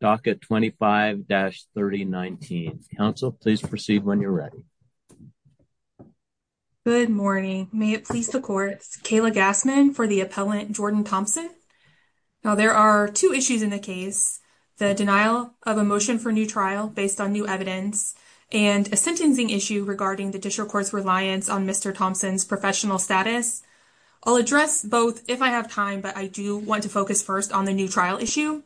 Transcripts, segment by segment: Docket 25-3019. Council, please proceed when you're ready. Good morning. May it please the courts, Kayla Gassman for the appellant Jordan Thompson. Now there are two issues in the case, the denial of a motion for new trial based on new evidence and a sentencing issue regarding the district court's reliance on Mr. Thompson's professional status. I'll address both if I have time, but I do want to focus first on the new trial issue.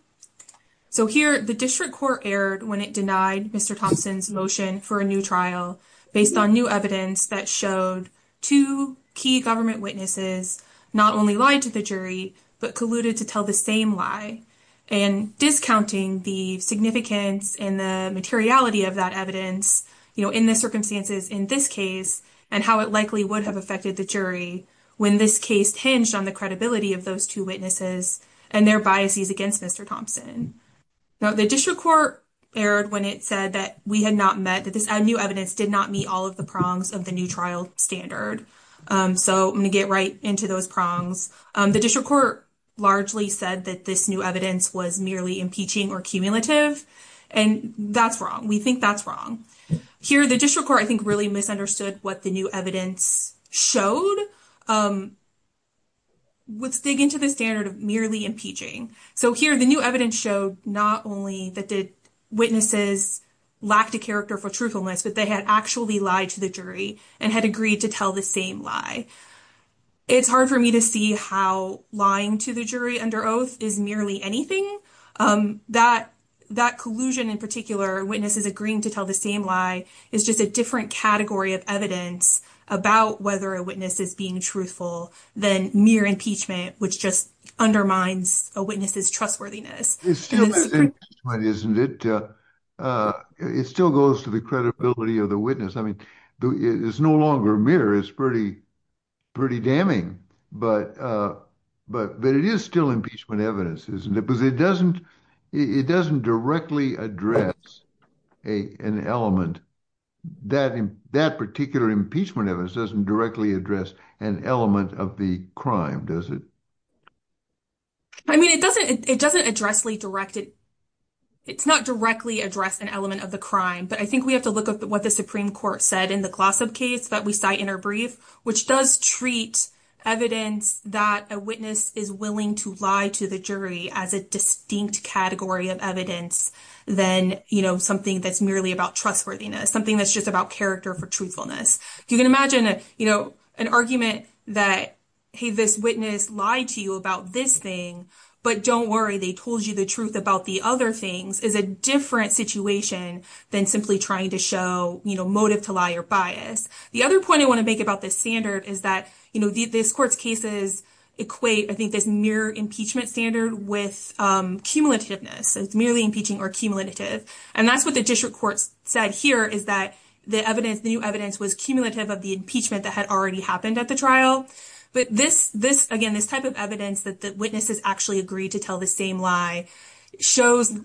So here the district court erred when it denied Mr. Thompson's motion for a new trial based on new evidence that showed two key government witnesses not only lied to the jury but colluded to tell the same lie and discounting the significance and the materiality of that in the circumstances in this case and how it likely would have affected the jury when this case hinged on the credibility of those two witnesses and their biases against Mr. Thompson. Now the district court erred when it said that we had not met, that this new evidence did not meet all of the prongs of the new trial standard. So I'm going to get right into those prongs. The district court largely said that this new evidence was merely impeaching or cumulative and that's wrong. We think that's wrong. Here the district court I think really misunderstood what the new evidence showed. Let's dig into the standard of merely impeaching. So here the new evidence showed not only that the witnesses lacked a character for truthfulness, but they had actually lied to the jury and had agreed to tell the same lie. It's hard for me to see how lying to the jury under oath is merely anything. That collusion in particular, witnesses agreeing to tell the same lie, is just a different category of evidence about whether a witness is being truthful than mere impeachment, which just undermines a witness's trustworthiness. It still goes to the credibility of the witness. I mean, it's no longer mere. It's pretty damning. But it is still impeachment evidence, isn't it? Because it doesn't directly address an element. That particular impeachment evidence doesn't directly address an element of the crime, does it? I mean, it doesn't directly address an element of the crime. But I think we have to look at what the Supreme Court said in the Glossop case that we which does treat evidence that a witness is willing to lie to the jury as a distinct category of evidence than something that's merely about trustworthiness, something that's just about character for truthfulness. You can imagine an argument that, hey, this witness lied to you about this thing, but don't worry, they told you the truth about the other things is a different situation than simply trying to show motive to lie or bias. The other point I want to make about this standard is that this court's cases equate, I think, this mere impeachment standard with cumulativeness. It's merely impeaching or cumulative. And that's what the district court said here is that the new evidence was cumulative of the impeachment that had already happened at the trial. But this, again, this type of evidence that the witnesses actually agreed to tell the same lie shows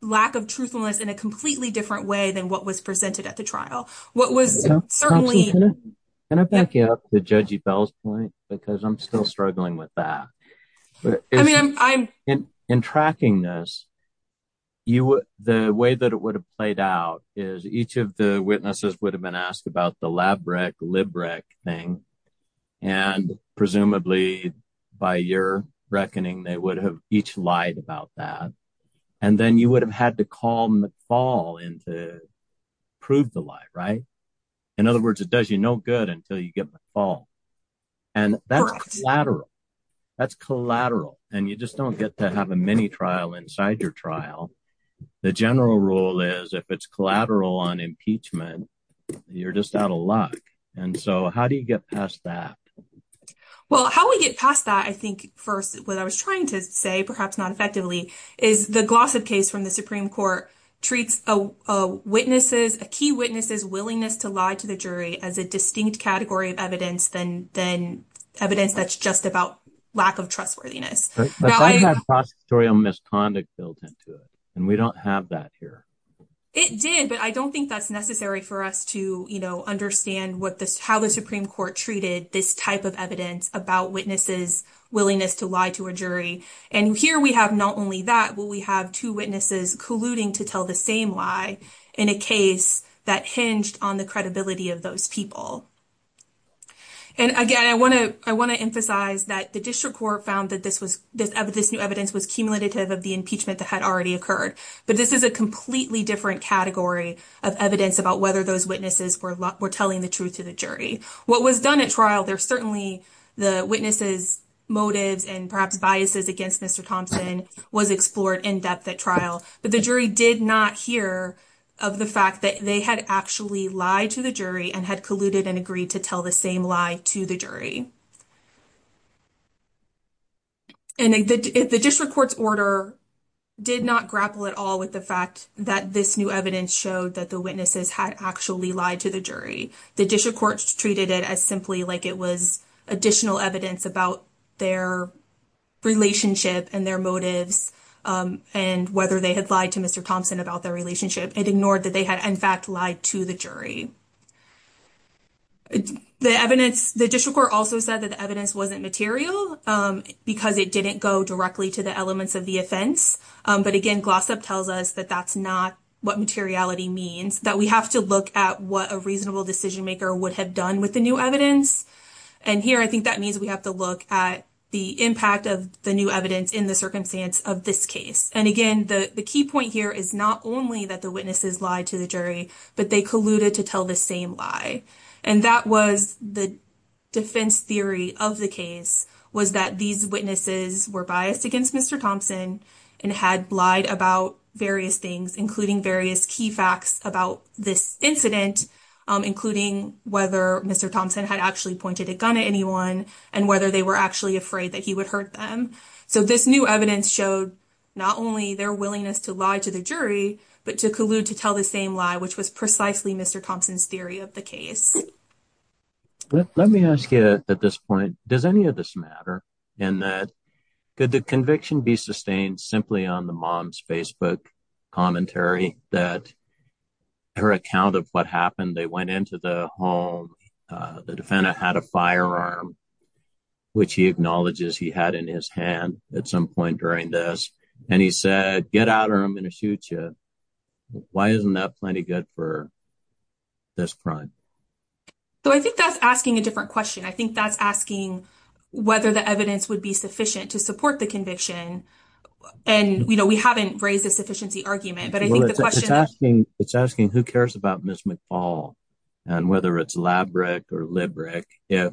lack of truthfulness in a completely different way than what was presented at the trial. What was certainly... Can I back you up to Judge Bell's point? Because I'm still struggling with that. In tracking this, the way that it would have played out is each of the witnesses would have been asked about the lab rec, lib rec thing. And presumably by your reckoning, they would have lied about that. And then you would have had to call McFall in to prove the lie, right? In other words, it does you no good until you get McFall. And that's collateral. That's collateral. And you just don't get to have a mini trial inside your trial. The general rule is if it's collateral on impeachment, you're just out of luck. And so how do you get past that? Well, how we get past that, I think, first, what I was trying to say, perhaps not effectively, is the Glossop case from the Supreme Court treats a witness's, a key witness's willingness to lie to the jury as a distinct category of evidence than evidence that's just about lack of trustworthiness. But that's got prosecutorial misconduct built into it. And we don't have that here. It did. But I don't think that's necessary for us to understand how the Supreme Court treated this type of evidence about witnesses' willingness to lie to a jury. And here we have not only that, but we have two witnesses colluding to tell the same lie in a case that hinged on the credibility of those people. And again, I want to emphasize that the district court found that this new evidence was cumulative of the impeachment that had already occurred. But this is a completely different category of evidence about whether those witnesses were telling the truth to the jury. What was done at trial, there's certainly the witness's motives and perhaps biases against Mr. Thompson was explored in depth at trial, but the jury did not hear of the fact that they had actually lied to the jury and had colluded and agreed to tell the same lie to the jury. And the district court's order did not grapple at all with the fact that this new evidence showed that the witnesses had actually lied to the jury. The district court treated it as simply like it was additional evidence about their relationship and their motives and whether they had lied to Mr. Thompson about their relationship. It ignored that they had in fact lied to the jury. The evidence, the district court also said that the evidence wasn't material because it didn't go directly to the elements of the offense. But again, Glossop tells us that that's not what materiality means, that we have to look at what a reasonable decision maker would have done with the new evidence. And here, I think that means we have to look at the impact of the new evidence in the circumstance of this case. And again, the key point here is not only that the witnesses lied to the jury, but they colluded to tell the same lie. And that was the defense theory of the case was that these witnesses were biased against Mr. Thompson and had lied about various things, including various key facts about this incident, including whether Mr. Thompson had actually pointed a gun at anyone and whether they were actually afraid that he would hurt them. So this new evidence showed not only their willingness to lie to the jury, but to collude to tell the same lie, which was precisely Mr. Thompson's theory of the case. Let me ask you at this point, does any of this matter? And could the conviction be sustained simply on the mom's Facebook commentary that her account of what happened, they went into the home, the defendant had a firearm, which he acknowledges he had in his hand at some point during this. And he said, get out or I'm going to shoot you. Why isn't that plenty good for this crime? So I think that's asking a different question. I think that's asking whether the evidence would be sufficient to support the conviction. And, you know, we haven't raised a sufficiency argument, but I think the question is asking, it's asking who cares about Ms. McFall and whether it's lab brick or lib brick, if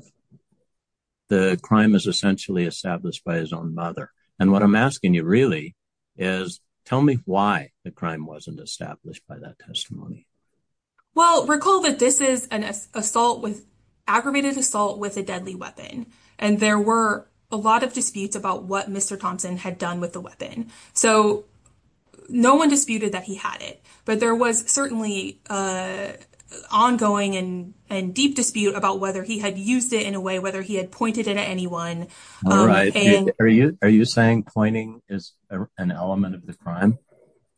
the crime is essentially established by his own mother. And what I'm asking you really is tell me why the crime wasn't established by that testimony. Well, recall that this is an assault with aggravated assault with a deadly weapon. And there were a lot of disputes about what Mr. Thompson had done with the weapon. So no one disputed that he had it, but there was certainly an ongoing and deep dispute about whether he had used it in a way, whether he had pointed it at anyone. Are you saying pointing is an element of the crime?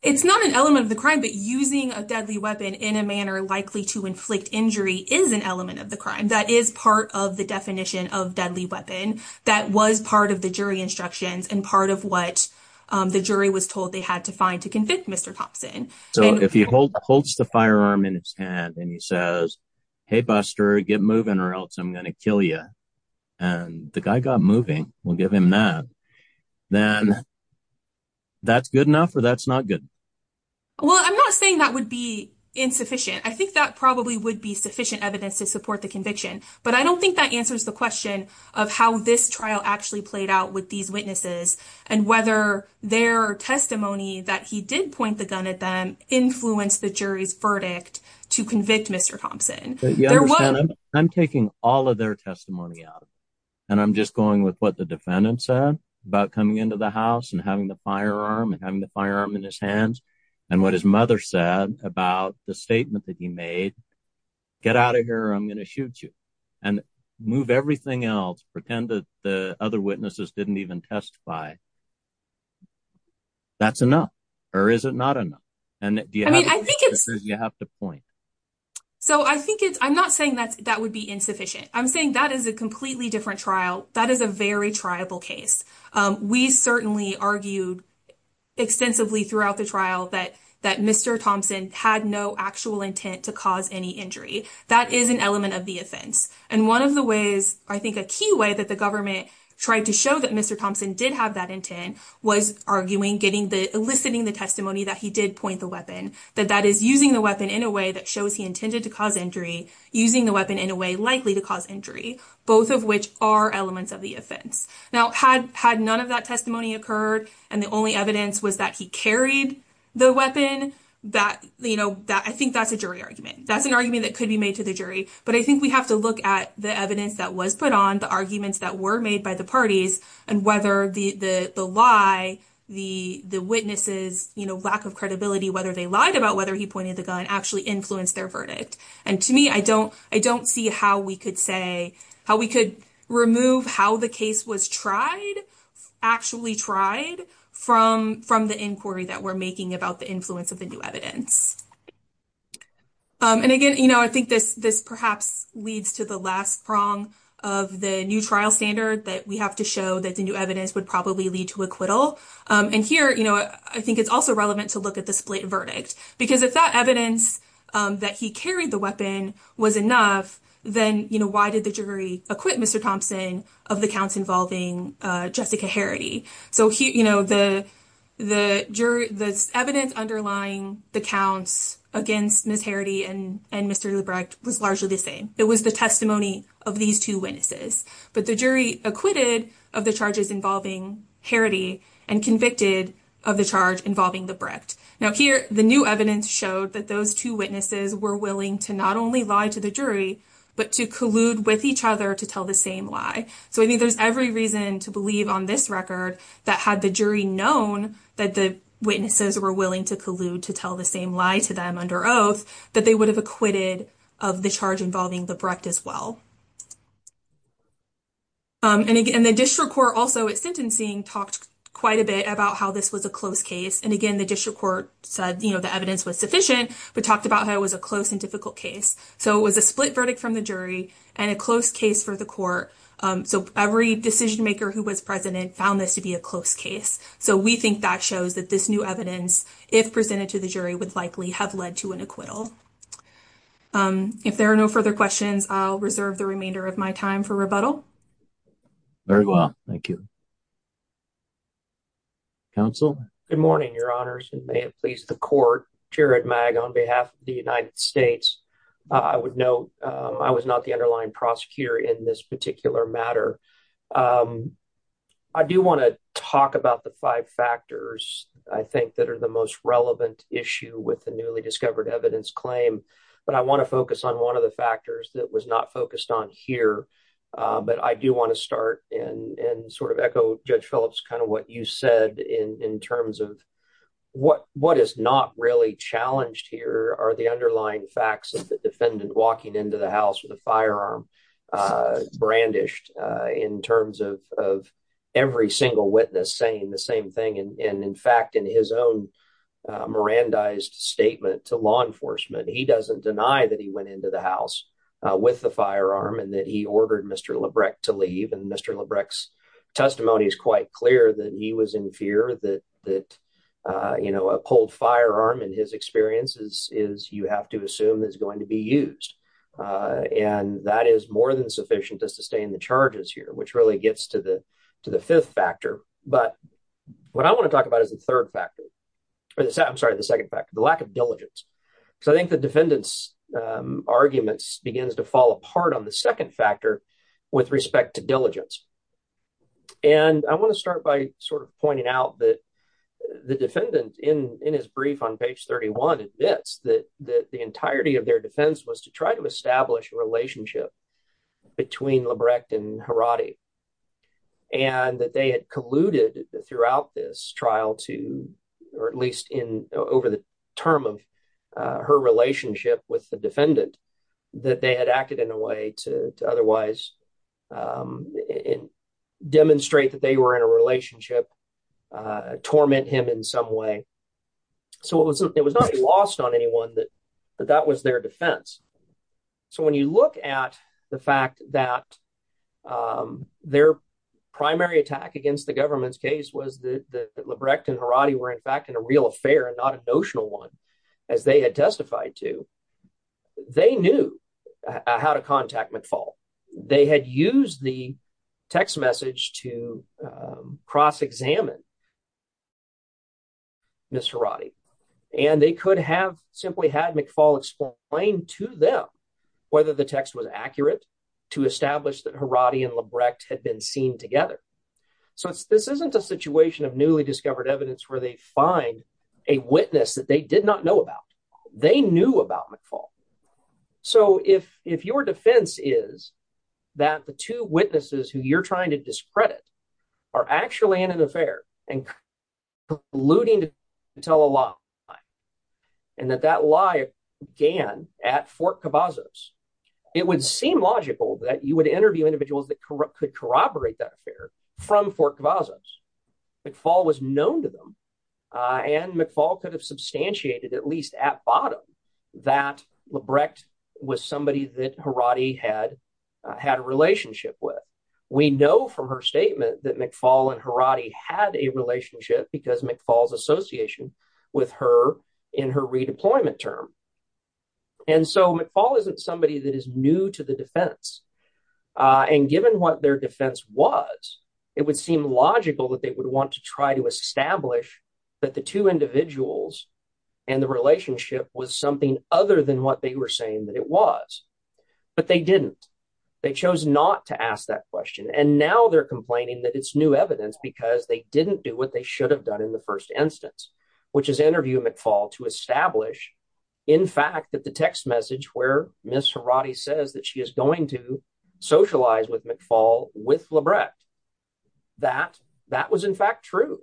It's not an element of the crime, but using a deadly weapon in a manner likely to inflict injury is an element of the crime. That is part of the definition of deadly weapon. That was part of the jury instructions and part of what the jury was told they had to find to convict Mr. Thompson. So if he holds the firearm in his hand and he says, hey, Buster, get moving or else I'm going to kill you. And the guy got moving. We'll give him that. Then that's good enough or that's not good. Well, I'm not saying that would be insufficient. I think that probably would be sufficient evidence to support the conviction. But I don't think that answers the question of how this trial actually played out with these witnesses and whether their testimony that he did point the gun at them influenced the jury's verdict to convict Mr. Thompson. You understand I'm taking all of their testimony out and I'm just going with what the defendant said about coming into the house and having the firearm and having the firearm in his hands and what his mother said about the statement that he made. Get out of here. I'm going to shoot you and move everything else. Pretend that the other witnesses didn't even testify. That's enough or is it not enough? And I think you have to point. So I think it's I'm not saying that that would be insufficient. I'm saying that is a completely different trial. That is a very triable case. We certainly argued extensively throughout the trial that that Mr. Thompson had no actual intent to cause any injury. That is an element of the offense. And one of the ways I think a key way that the government tried to show that Mr. Thompson did have that intent was arguing, getting the listening, the testimony that he did point the weapon, that that is using the weapon in a way that shows he intended to cause injury, using the weapon in a way likely to cause injury, both of which are elements of the offense. Now, had had none of that testimony occurred and the only evidence was that he carried the weapon, I think that's a jury argument. That's an argument that could be made to the jury. But I think we have to look at the evidence that was put on, the arguments that were made by the parties and whether the lie, the witnesses, you know, lack of credibility, whether they lied about whether he pointed the gun actually influenced their verdict. And to me, I don't I don't see how we could say how we could remove how the case was tried, actually tried from from the inquiry that we're making about the influence of the new evidence. And again, you know, I think this this perhaps leads to the last prong of the new trial standard that we have to show that the new evidence would probably lead to acquittal. And here, you know, I think it's also relevant to look at the split verdict, because if that evidence that he carried the weapon was enough, then, you know, why did the jury acquit Mr. Thompson of the counts involving Jessica Harity? So, you know, the the jury, the evidence underlying the counts against Ms. Harity and and Mr. Lebrecht was largely the same. It was the testimony of these two witnesses. But the jury acquitted of the charges involving Harity and convicted of the charge involving Lebrecht. Now, here, the new evidence showed that those two witnesses were willing to not only lie to the jury, but to collude with each other to tell the same lie. So I think there's every reason to believe on this record that had the jury known that the witnesses were willing to collude to tell the same lie to them under oath, that they would have acquitted of the charge involving Lebrecht as well. And again, the district court also at sentencing talked quite a bit about how this was a close case. And again, the district court said, you know, the evidence was sufficient, but talked about how it was a close and difficult case. So it was a split verdict from the jury and a close case for the court. So every decision maker who was present and found this to be a close case. So we think that shows that this new evidence, if presented to the jury, would likely have led to an acquittal. If there are no further questions, I'll reserve the remainder of my time for rebuttal. Very well. Thank you. Counsel. Good morning, your honors, and may it please the court. Jared Mag on behalf of the United States. I would know I was not the underlying prosecutor in this particular matter. I do want to talk about the five factors I think that are the most relevant issue with the newly discovered evidence claim. But I want to focus on one of the factors that was not focused on here. But I do want to start and sort of echo Judge Phillips kind of what you said in terms of what what is not really challenged here are the underlying facts of the defendant walking into the house with a firearm brandished in terms of every single witness saying the same thing. And in fact, in his own Mirandized statement to law enforcement, he doesn't deny that he went into the house with the firearm and that he ordered Mr. Lebrecht to leave. And Mr. Lebrecht's testimony is quite clear that he was in fear that that, you know, a pulled firearm in his experiences is you have to assume is going to be used. And that is more than sufficient to sustain the charges here, which really gets to the to the fifth factor. But what I want to talk about is the third factor, or the second, sorry, the second factor, the lack of diligence. So I think the defendant's arguments begins to fall apart on the second factor with respect to diligence. And I want to start by sort of pointing out that the defendant in in his brief on page 31 admits that the entirety of their defense was to try to establish a relationship between Lebrecht and Haradi. And that they had colluded throughout this trial to, or at least in over the term of her relationship with the defendant, that they had acted in a way to otherwise demonstrate that they were in a relationship, torment him in some way. So it wasn't, it was not lost on anyone that that was their defense. So when you look at the fact that their primary attack against the government's case was that Lebrecht and Haradi were in fact in a real affair and not a notional one, as they had testified to, they knew how to contact McFaul. They had used the text message to cross-examine Ms. Haradi. And they could have simply had McFaul explain to them whether the text was accurate to establish that Haradi and Lebrecht had been seen together. So this isn't a situation of newly discovered evidence where they find a witness that they did not know about. They knew about McFaul. So if if your defense is that the two witnesses who you're trying to discredit are actually in an affair and colluding to tell a lie, and that that lie began at Fort Cavazos, it would seem logical that you would interview individuals that could corroborate that affair from Fort Cavazos. McFaul was known to them and McFaul could have substantiated at least at bottom that Lebrecht was somebody that Haradi had had a relationship with. We know from her statement that McFaul and Haradi had a relationship because McFaul's association with her in her redeployment term. And so McFaul isn't somebody that is new to the defense. And given what their defense was, it would seem logical that they would want to try to establish that the two individuals and the relationship was something other than what they were saying that it was. But they didn't. They chose not to ask that question. And now they're complaining that it's new evidence because they didn't do what they should have done in the first instance, which is interview McFaul to establish in fact that the text message where Miss Haradi says that she is going to socialize with McFaul with Lebrecht, that that was in fact true.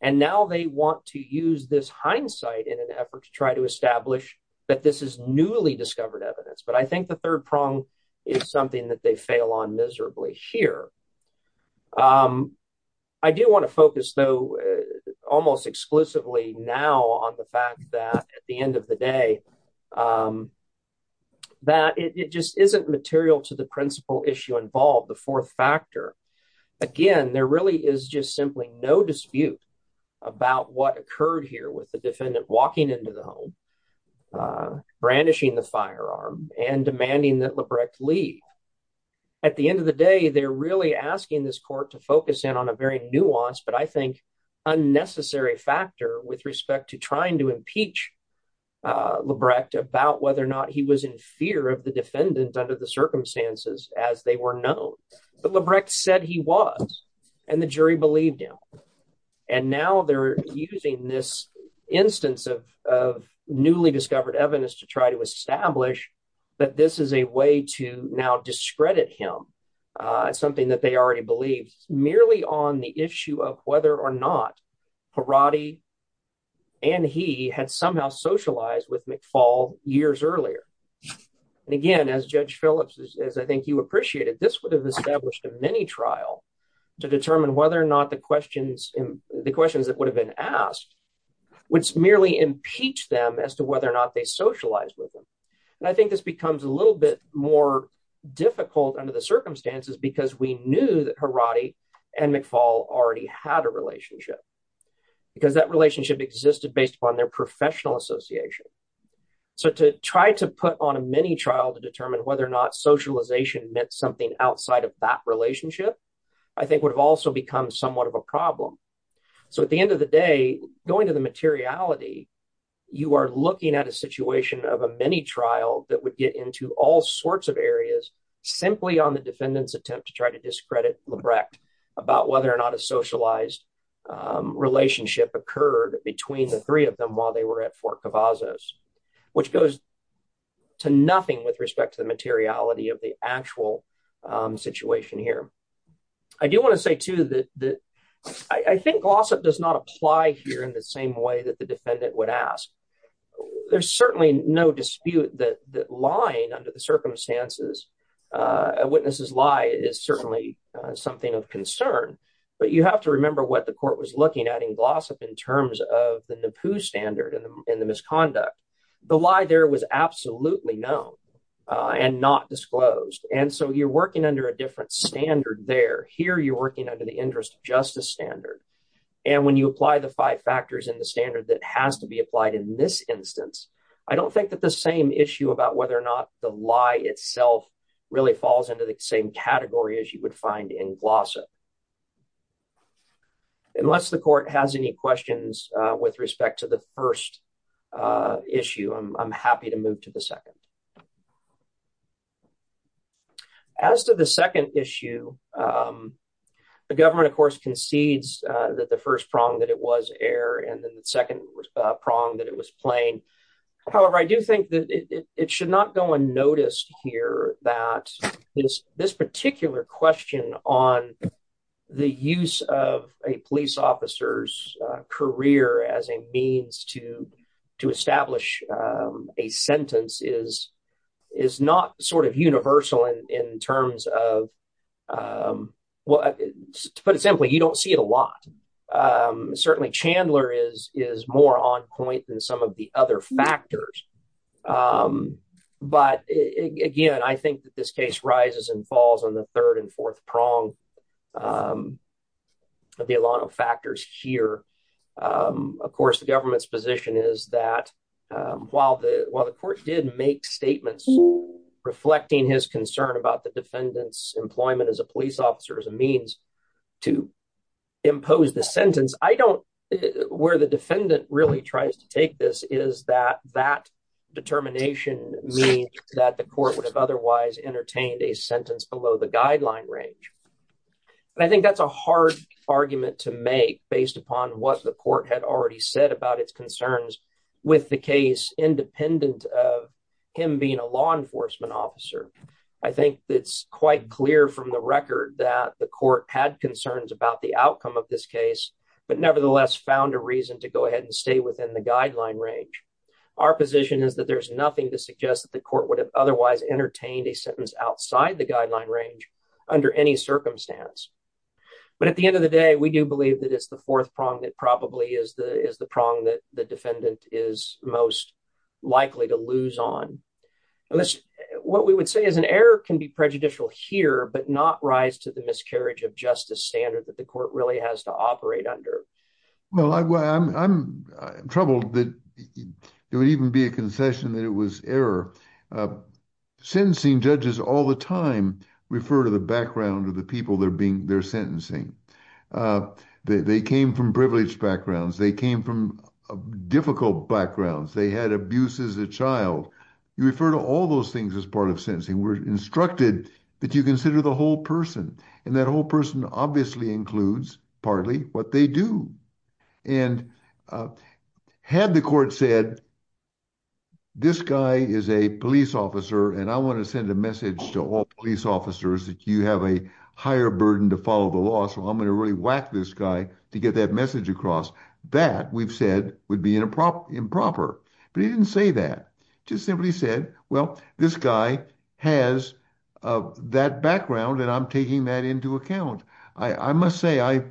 And now they want to use this hindsight in an effort to try to establish that this is newly discovered evidence. But I think the third prong is something that they fail on miserably here. I do want to focus though almost exclusively now on the fact that at the end of the day that it just isn't material to the principal issue involved, the fourth factor. Again, there really is just simply no dispute about what occurred here with the defendant walking into the home, brandishing the firearm and demanding that Lebrecht leave. At the end of the day, they're really asking this court to focus in on a very nuanced, but I think unnecessary factor with respect to trying to impeach Lebrecht about whether or not he was of the defendant under the circumstances as they were known. But Lebrecht said he was, and the jury believed him. And now they're using this instance of newly discovered evidence to try to establish that this is a way to now discredit him, something that they already believed, merely on the issue of whether or not Haradi and he had somehow socialized with McFaul years earlier. And again, as Judge Phillips, as I think you appreciated, this would have established a mini trial to determine whether or not the questions that would have been asked would merely impeach them as to whether or not they socialized with them. And I think this becomes a little bit more difficult under the circumstances because we knew that Haradi and McFaul already had a relationship because that relationship existed based upon their professional association. So to try to put on a mini trial to determine whether or not socialization meant something outside of that relationship, I think would have also become somewhat of a problem. So at the end of the day, going to the materiality, you are looking at a situation of a mini trial that would get into all sorts of areas, simply on the defendant's attempt to try to discredit Lebrecht about whether or not a socialized relationship occurred between the three of them while they were at Fort Cavazos, which goes to nothing with respect to the materiality of the actual situation here. I do want to say too that I think gloss up does not apply here in the same way that the defendant would ask. There's certainly no dispute that lying under the circumstances, a witness's lie is certainly something of concern. But you have to remember what the court was looking at in gloss up in terms of the NAPU standard and the misconduct. The lie there was absolutely known and not disclosed. And so you're working under a different standard there. Here you're working under the interest of justice standard. And when you apply the five factors in the standard that has to be applied in this instance, I don't think that the same issue about whether or not the lie itself really falls into the same category as you would find in gloss up. Unless the court has any questions with respect to the first issue, I'm happy to move to the second. As to the second issue, the government of course concedes that the first prong that it was air and then the second prong that it was plain. However, I do think that it should not go unnoticed that this particular question on the use of a police officer's career as a means to establish a sentence is not sort of universal in terms of, to put it simply, you don't see it a lot. Certainly Chandler is more on point than some of the other factors. But again, I think that this case rises and falls on the third and fourth prong of the a lot of factors here. Of course, the government's position is that while the court did make statements reflecting his concern about the defendant's employment as a police officer, as a means to impose the sentence, where the defendant really tries to take this is that that determination means that the court would have otherwise entertained a sentence below the guideline range. And I think that's a hard argument to make based upon what the court had already said about its concerns with the case independent of him being a law enforcement officer. I think it's quite clear from the record that the court had concerns about the outcome of this case, but nevertheless found a reason to go ahead and stay within the guideline range. Our position is that there's nothing to suggest that the court would have otherwise entertained a sentence outside the guideline range under any circumstance. But at the end of the day, we do believe that it's the fourth prong that probably is the prong that the defendant is most likely to lose on. What we would say is an error can be prejudicial here, but not rise to the miscarriage of justice standard that the court really has to operate under. Well, I'm troubled that it would even be a concession that it was error. Sentencing judges all the time refer to the background of the people they're being they're sentencing. They came from privileged backgrounds. They came from difficult backgrounds. They had abuse as a child. You refer to all those things as part of sentencing. We're instructed that you consider the whole person, and that whole person obviously includes partly what they do. And had the court said, this guy is a police officer, and I want to send a message to all police officers that you have a higher burden to follow the law, so I'm going to really whack this guy to get that message across, that we've said would be improper. But he didn't say that. He just simply said, well, this guy has that background, and I'm taking that into account. I must say,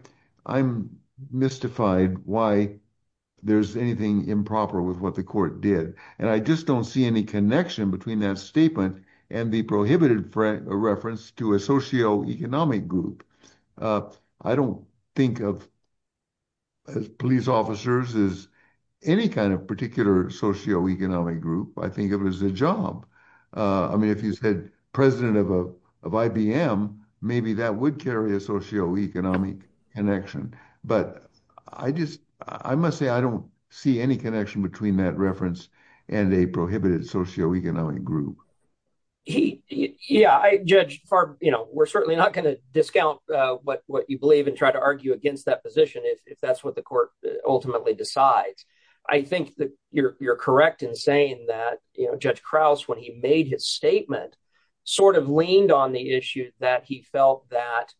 I'm mystified why there's anything improper with what the court did. And I just don't see any connection between that statement and the prohibited reference to a socioeconomic group. I don't think of police officers as any kind of particular socioeconomic group. I think of it as a job. I mean, if you said president of IBM, maybe that would carry a socioeconomic connection. But I must say, I don't see any connection between that reference and a prohibited socioeconomic group. Yeah, Judge, we're certainly not going to discount what you believe and try to argue against that position, if that's what the court ultimately decides. I think that you're correct in saying that Judge Krause, when he made his statement, sort of leaned on the issue that he felt that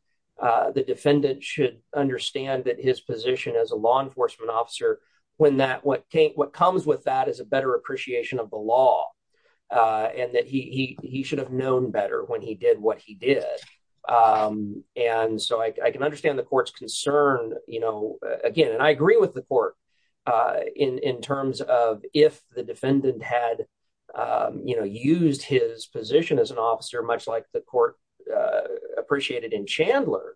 the defendant should understand that position as a law enforcement officer when what comes with that is a better appreciation of the law, and that he should have known better when he did what he did. And so I can understand the court's concern, again, and I agree with the court in terms of if the defendant had used his position as an officer, much like the court appreciated in Chandler,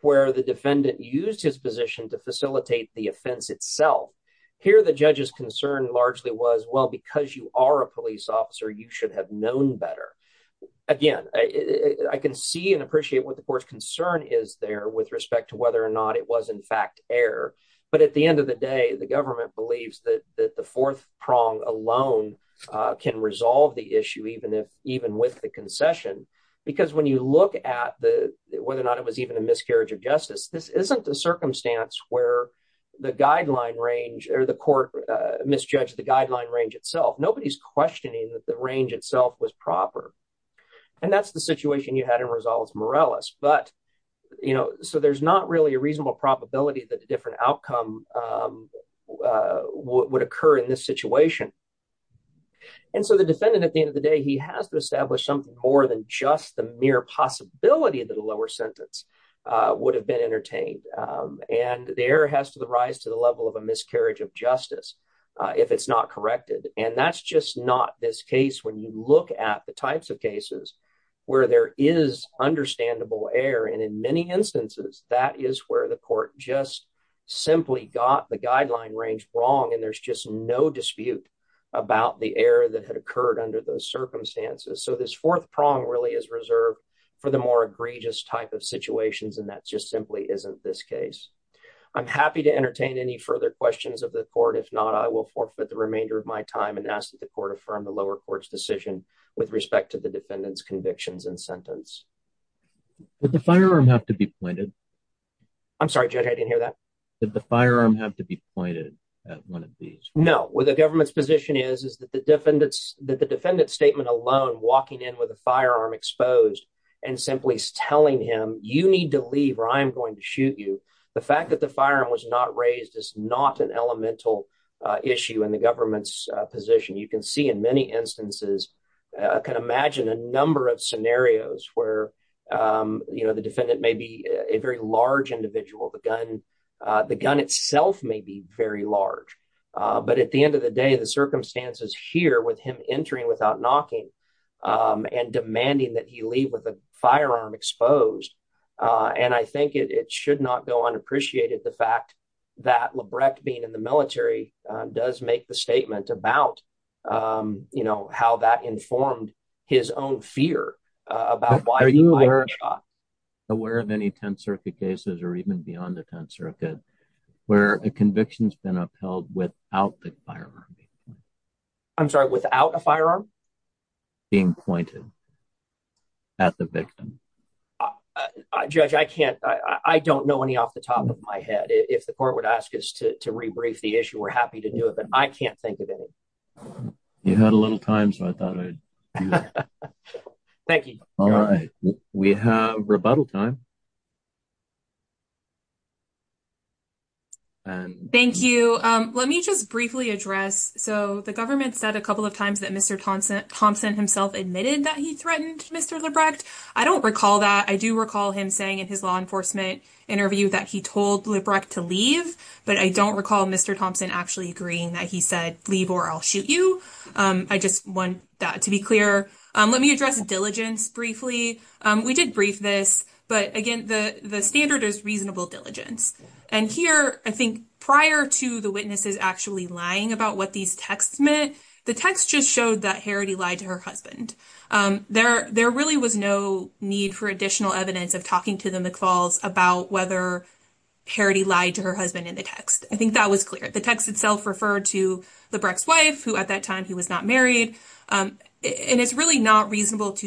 where the defendant used his position to facilitate the offense itself. Here, the judge's concern largely was, well, because you are a police officer, you should have known better. Again, I can see and appreciate what the court's concern is there with respect to whether or not it was in fact error. But at the end of the day, the government believes that the fourth prong alone can resolve the issue even with the concession. Because when you look at whether or not it was even a miscarriage of justice, this isn't a circumstance where the guideline range or the court misjudged the guideline range itself. Nobody's questioning that the range itself was proper. And that's the situation you had in Rosales-Morales. But, you know, so there's not really a reasonable probability that a different outcome would occur in this situation. And so the defendant, at the end of the day, he has to establish something more than just the mere possibility that a lower sentence would have been entertained. And the error has to rise to the level of a miscarriage of justice if it's not corrected. And that's just not this case when you look at the types of cases where there is understandable error. And in many instances, that is where the court just simply got the guideline range wrong. And there's just no dispute about the error that had occurred under those circumstances. So this fourth prong really is reserved for the more egregious type of situations. And that just simply isn't this case. I'm happy to entertain any further questions of the court. If not, I will forfeit the remainder of my time and ask that the court affirm the lower court's decision with respect to the defendant's convictions and sentence. Would the firearm have to be pointed? I'm sorry, Judge, I didn't hear that. Did the firearm have to be pointed at one of these? No. Where the government's position is, is that the defendant's statement alone, walking in with a firearm exposed and simply telling him, you need to leave or I'm going to shoot you. The fact that the firearm was not raised is not an elemental issue in the government's position. You can see in many instances, I can imagine a number of scenarios where, you know, the defendant may be a very large individual. The gun itself may be very large. But at the end of the day, the circumstances here with him entering without knocking and demanding that he leave with a firearm exposed. And I think it should not go unappreciated, the fact that Labreck being in the military does make the statement about, you know, how that informed his own fear about why. Are you aware of any Tenth Circuit cases or even beyond the Tenth Circuit where a conviction has been upheld without the firearm? I'm sorry, without a firearm? Being pointed at the victim. Judge, I can't, I don't know any off the top of my head. If the court would ask us to rebrief the issue, we're happy to do it, but I can't think of any. You had a little time, so I thought I'd do that. Thank you. We have rebuttal time. Thank you. Let me just briefly address. So the government said a couple of times that Mr. Thompson himself admitted that he threatened Mr. Labreck. I don't recall that. I do recall him saying in his law enforcement interview that he told Labreck to leave, but I don't recall Mr. Thompson actually agreeing that he said leave or I'll shoot you. I just want that to be clear. Let me address diligence briefly. We did brief this, but again, the standard is reasonable diligence. And here, I think prior to the witnesses actually lying about what these texts meant, the text just showed that Harrity lied to her husband. There really was no need for additional evidence of talking to the McFalls about whether Harrity lied to her husband in the text. I think that was clear. The text itself referred to Labreck's wife, who at that time he was not married. And it's really not reasonable for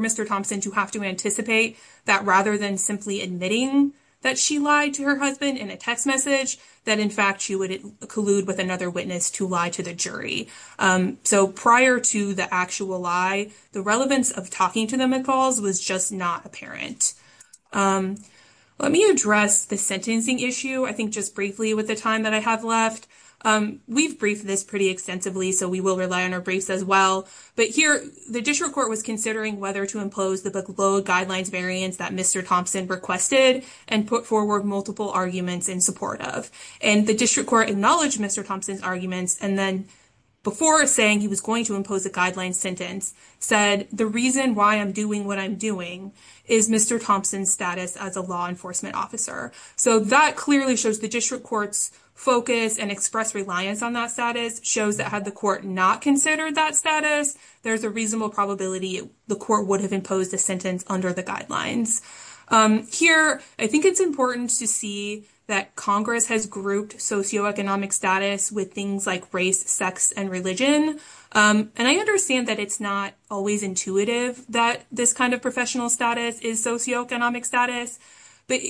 Mr. Thompson to have to anticipate that rather than simply admitting that she lied to her husband in a text message, that in fact, she would collude with another witness to lie to the jury. So prior to the actual lie, the relevance of talking to the McFalls was just not apparent. Let me address the sentencing issue, I think just briefly with the time that I have left. We've briefed this pretty extensively, so we will rely on our briefs as well. But here, the district court was considering whether to impose the below guidelines variance that Mr. Thompson requested and put forward multiple arguments in support of. And the district court acknowledged Mr. Thompson's arguments. And then before saying he was going to impose a guideline sentence, said the reason why I'm doing what I'm doing is Mr. Thompson's as a law enforcement officer. So that clearly shows the district court's focus and express reliance on that status shows that had the court not considered that status, there's a reasonable probability the court would have imposed a sentence under the guidelines. Here, I think it's important to see that Congress has grouped socioeconomic status with things like race, sex, and religion. And I understand that it's not always intuitive that this kind of professional status is socioeconomic status. But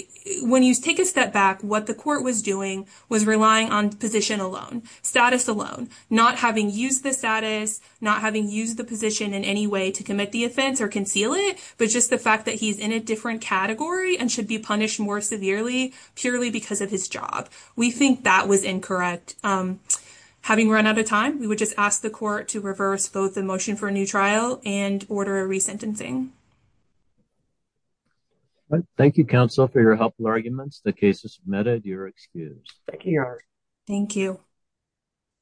when you take a step back, what the court was doing was relying on position alone, status alone, not having used the status, not having used the position in any way to commit the offense or conceal it, but just the fact that he's in a different category and should be punished more severely, purely because of his job. We think that was incorrect. Having run out of time, we would just ask the court to reverse both the questions. Thank you, counsel, for your helpful arguments. The case is submitted. You're excused. Thank you, Your Honor. Thank you.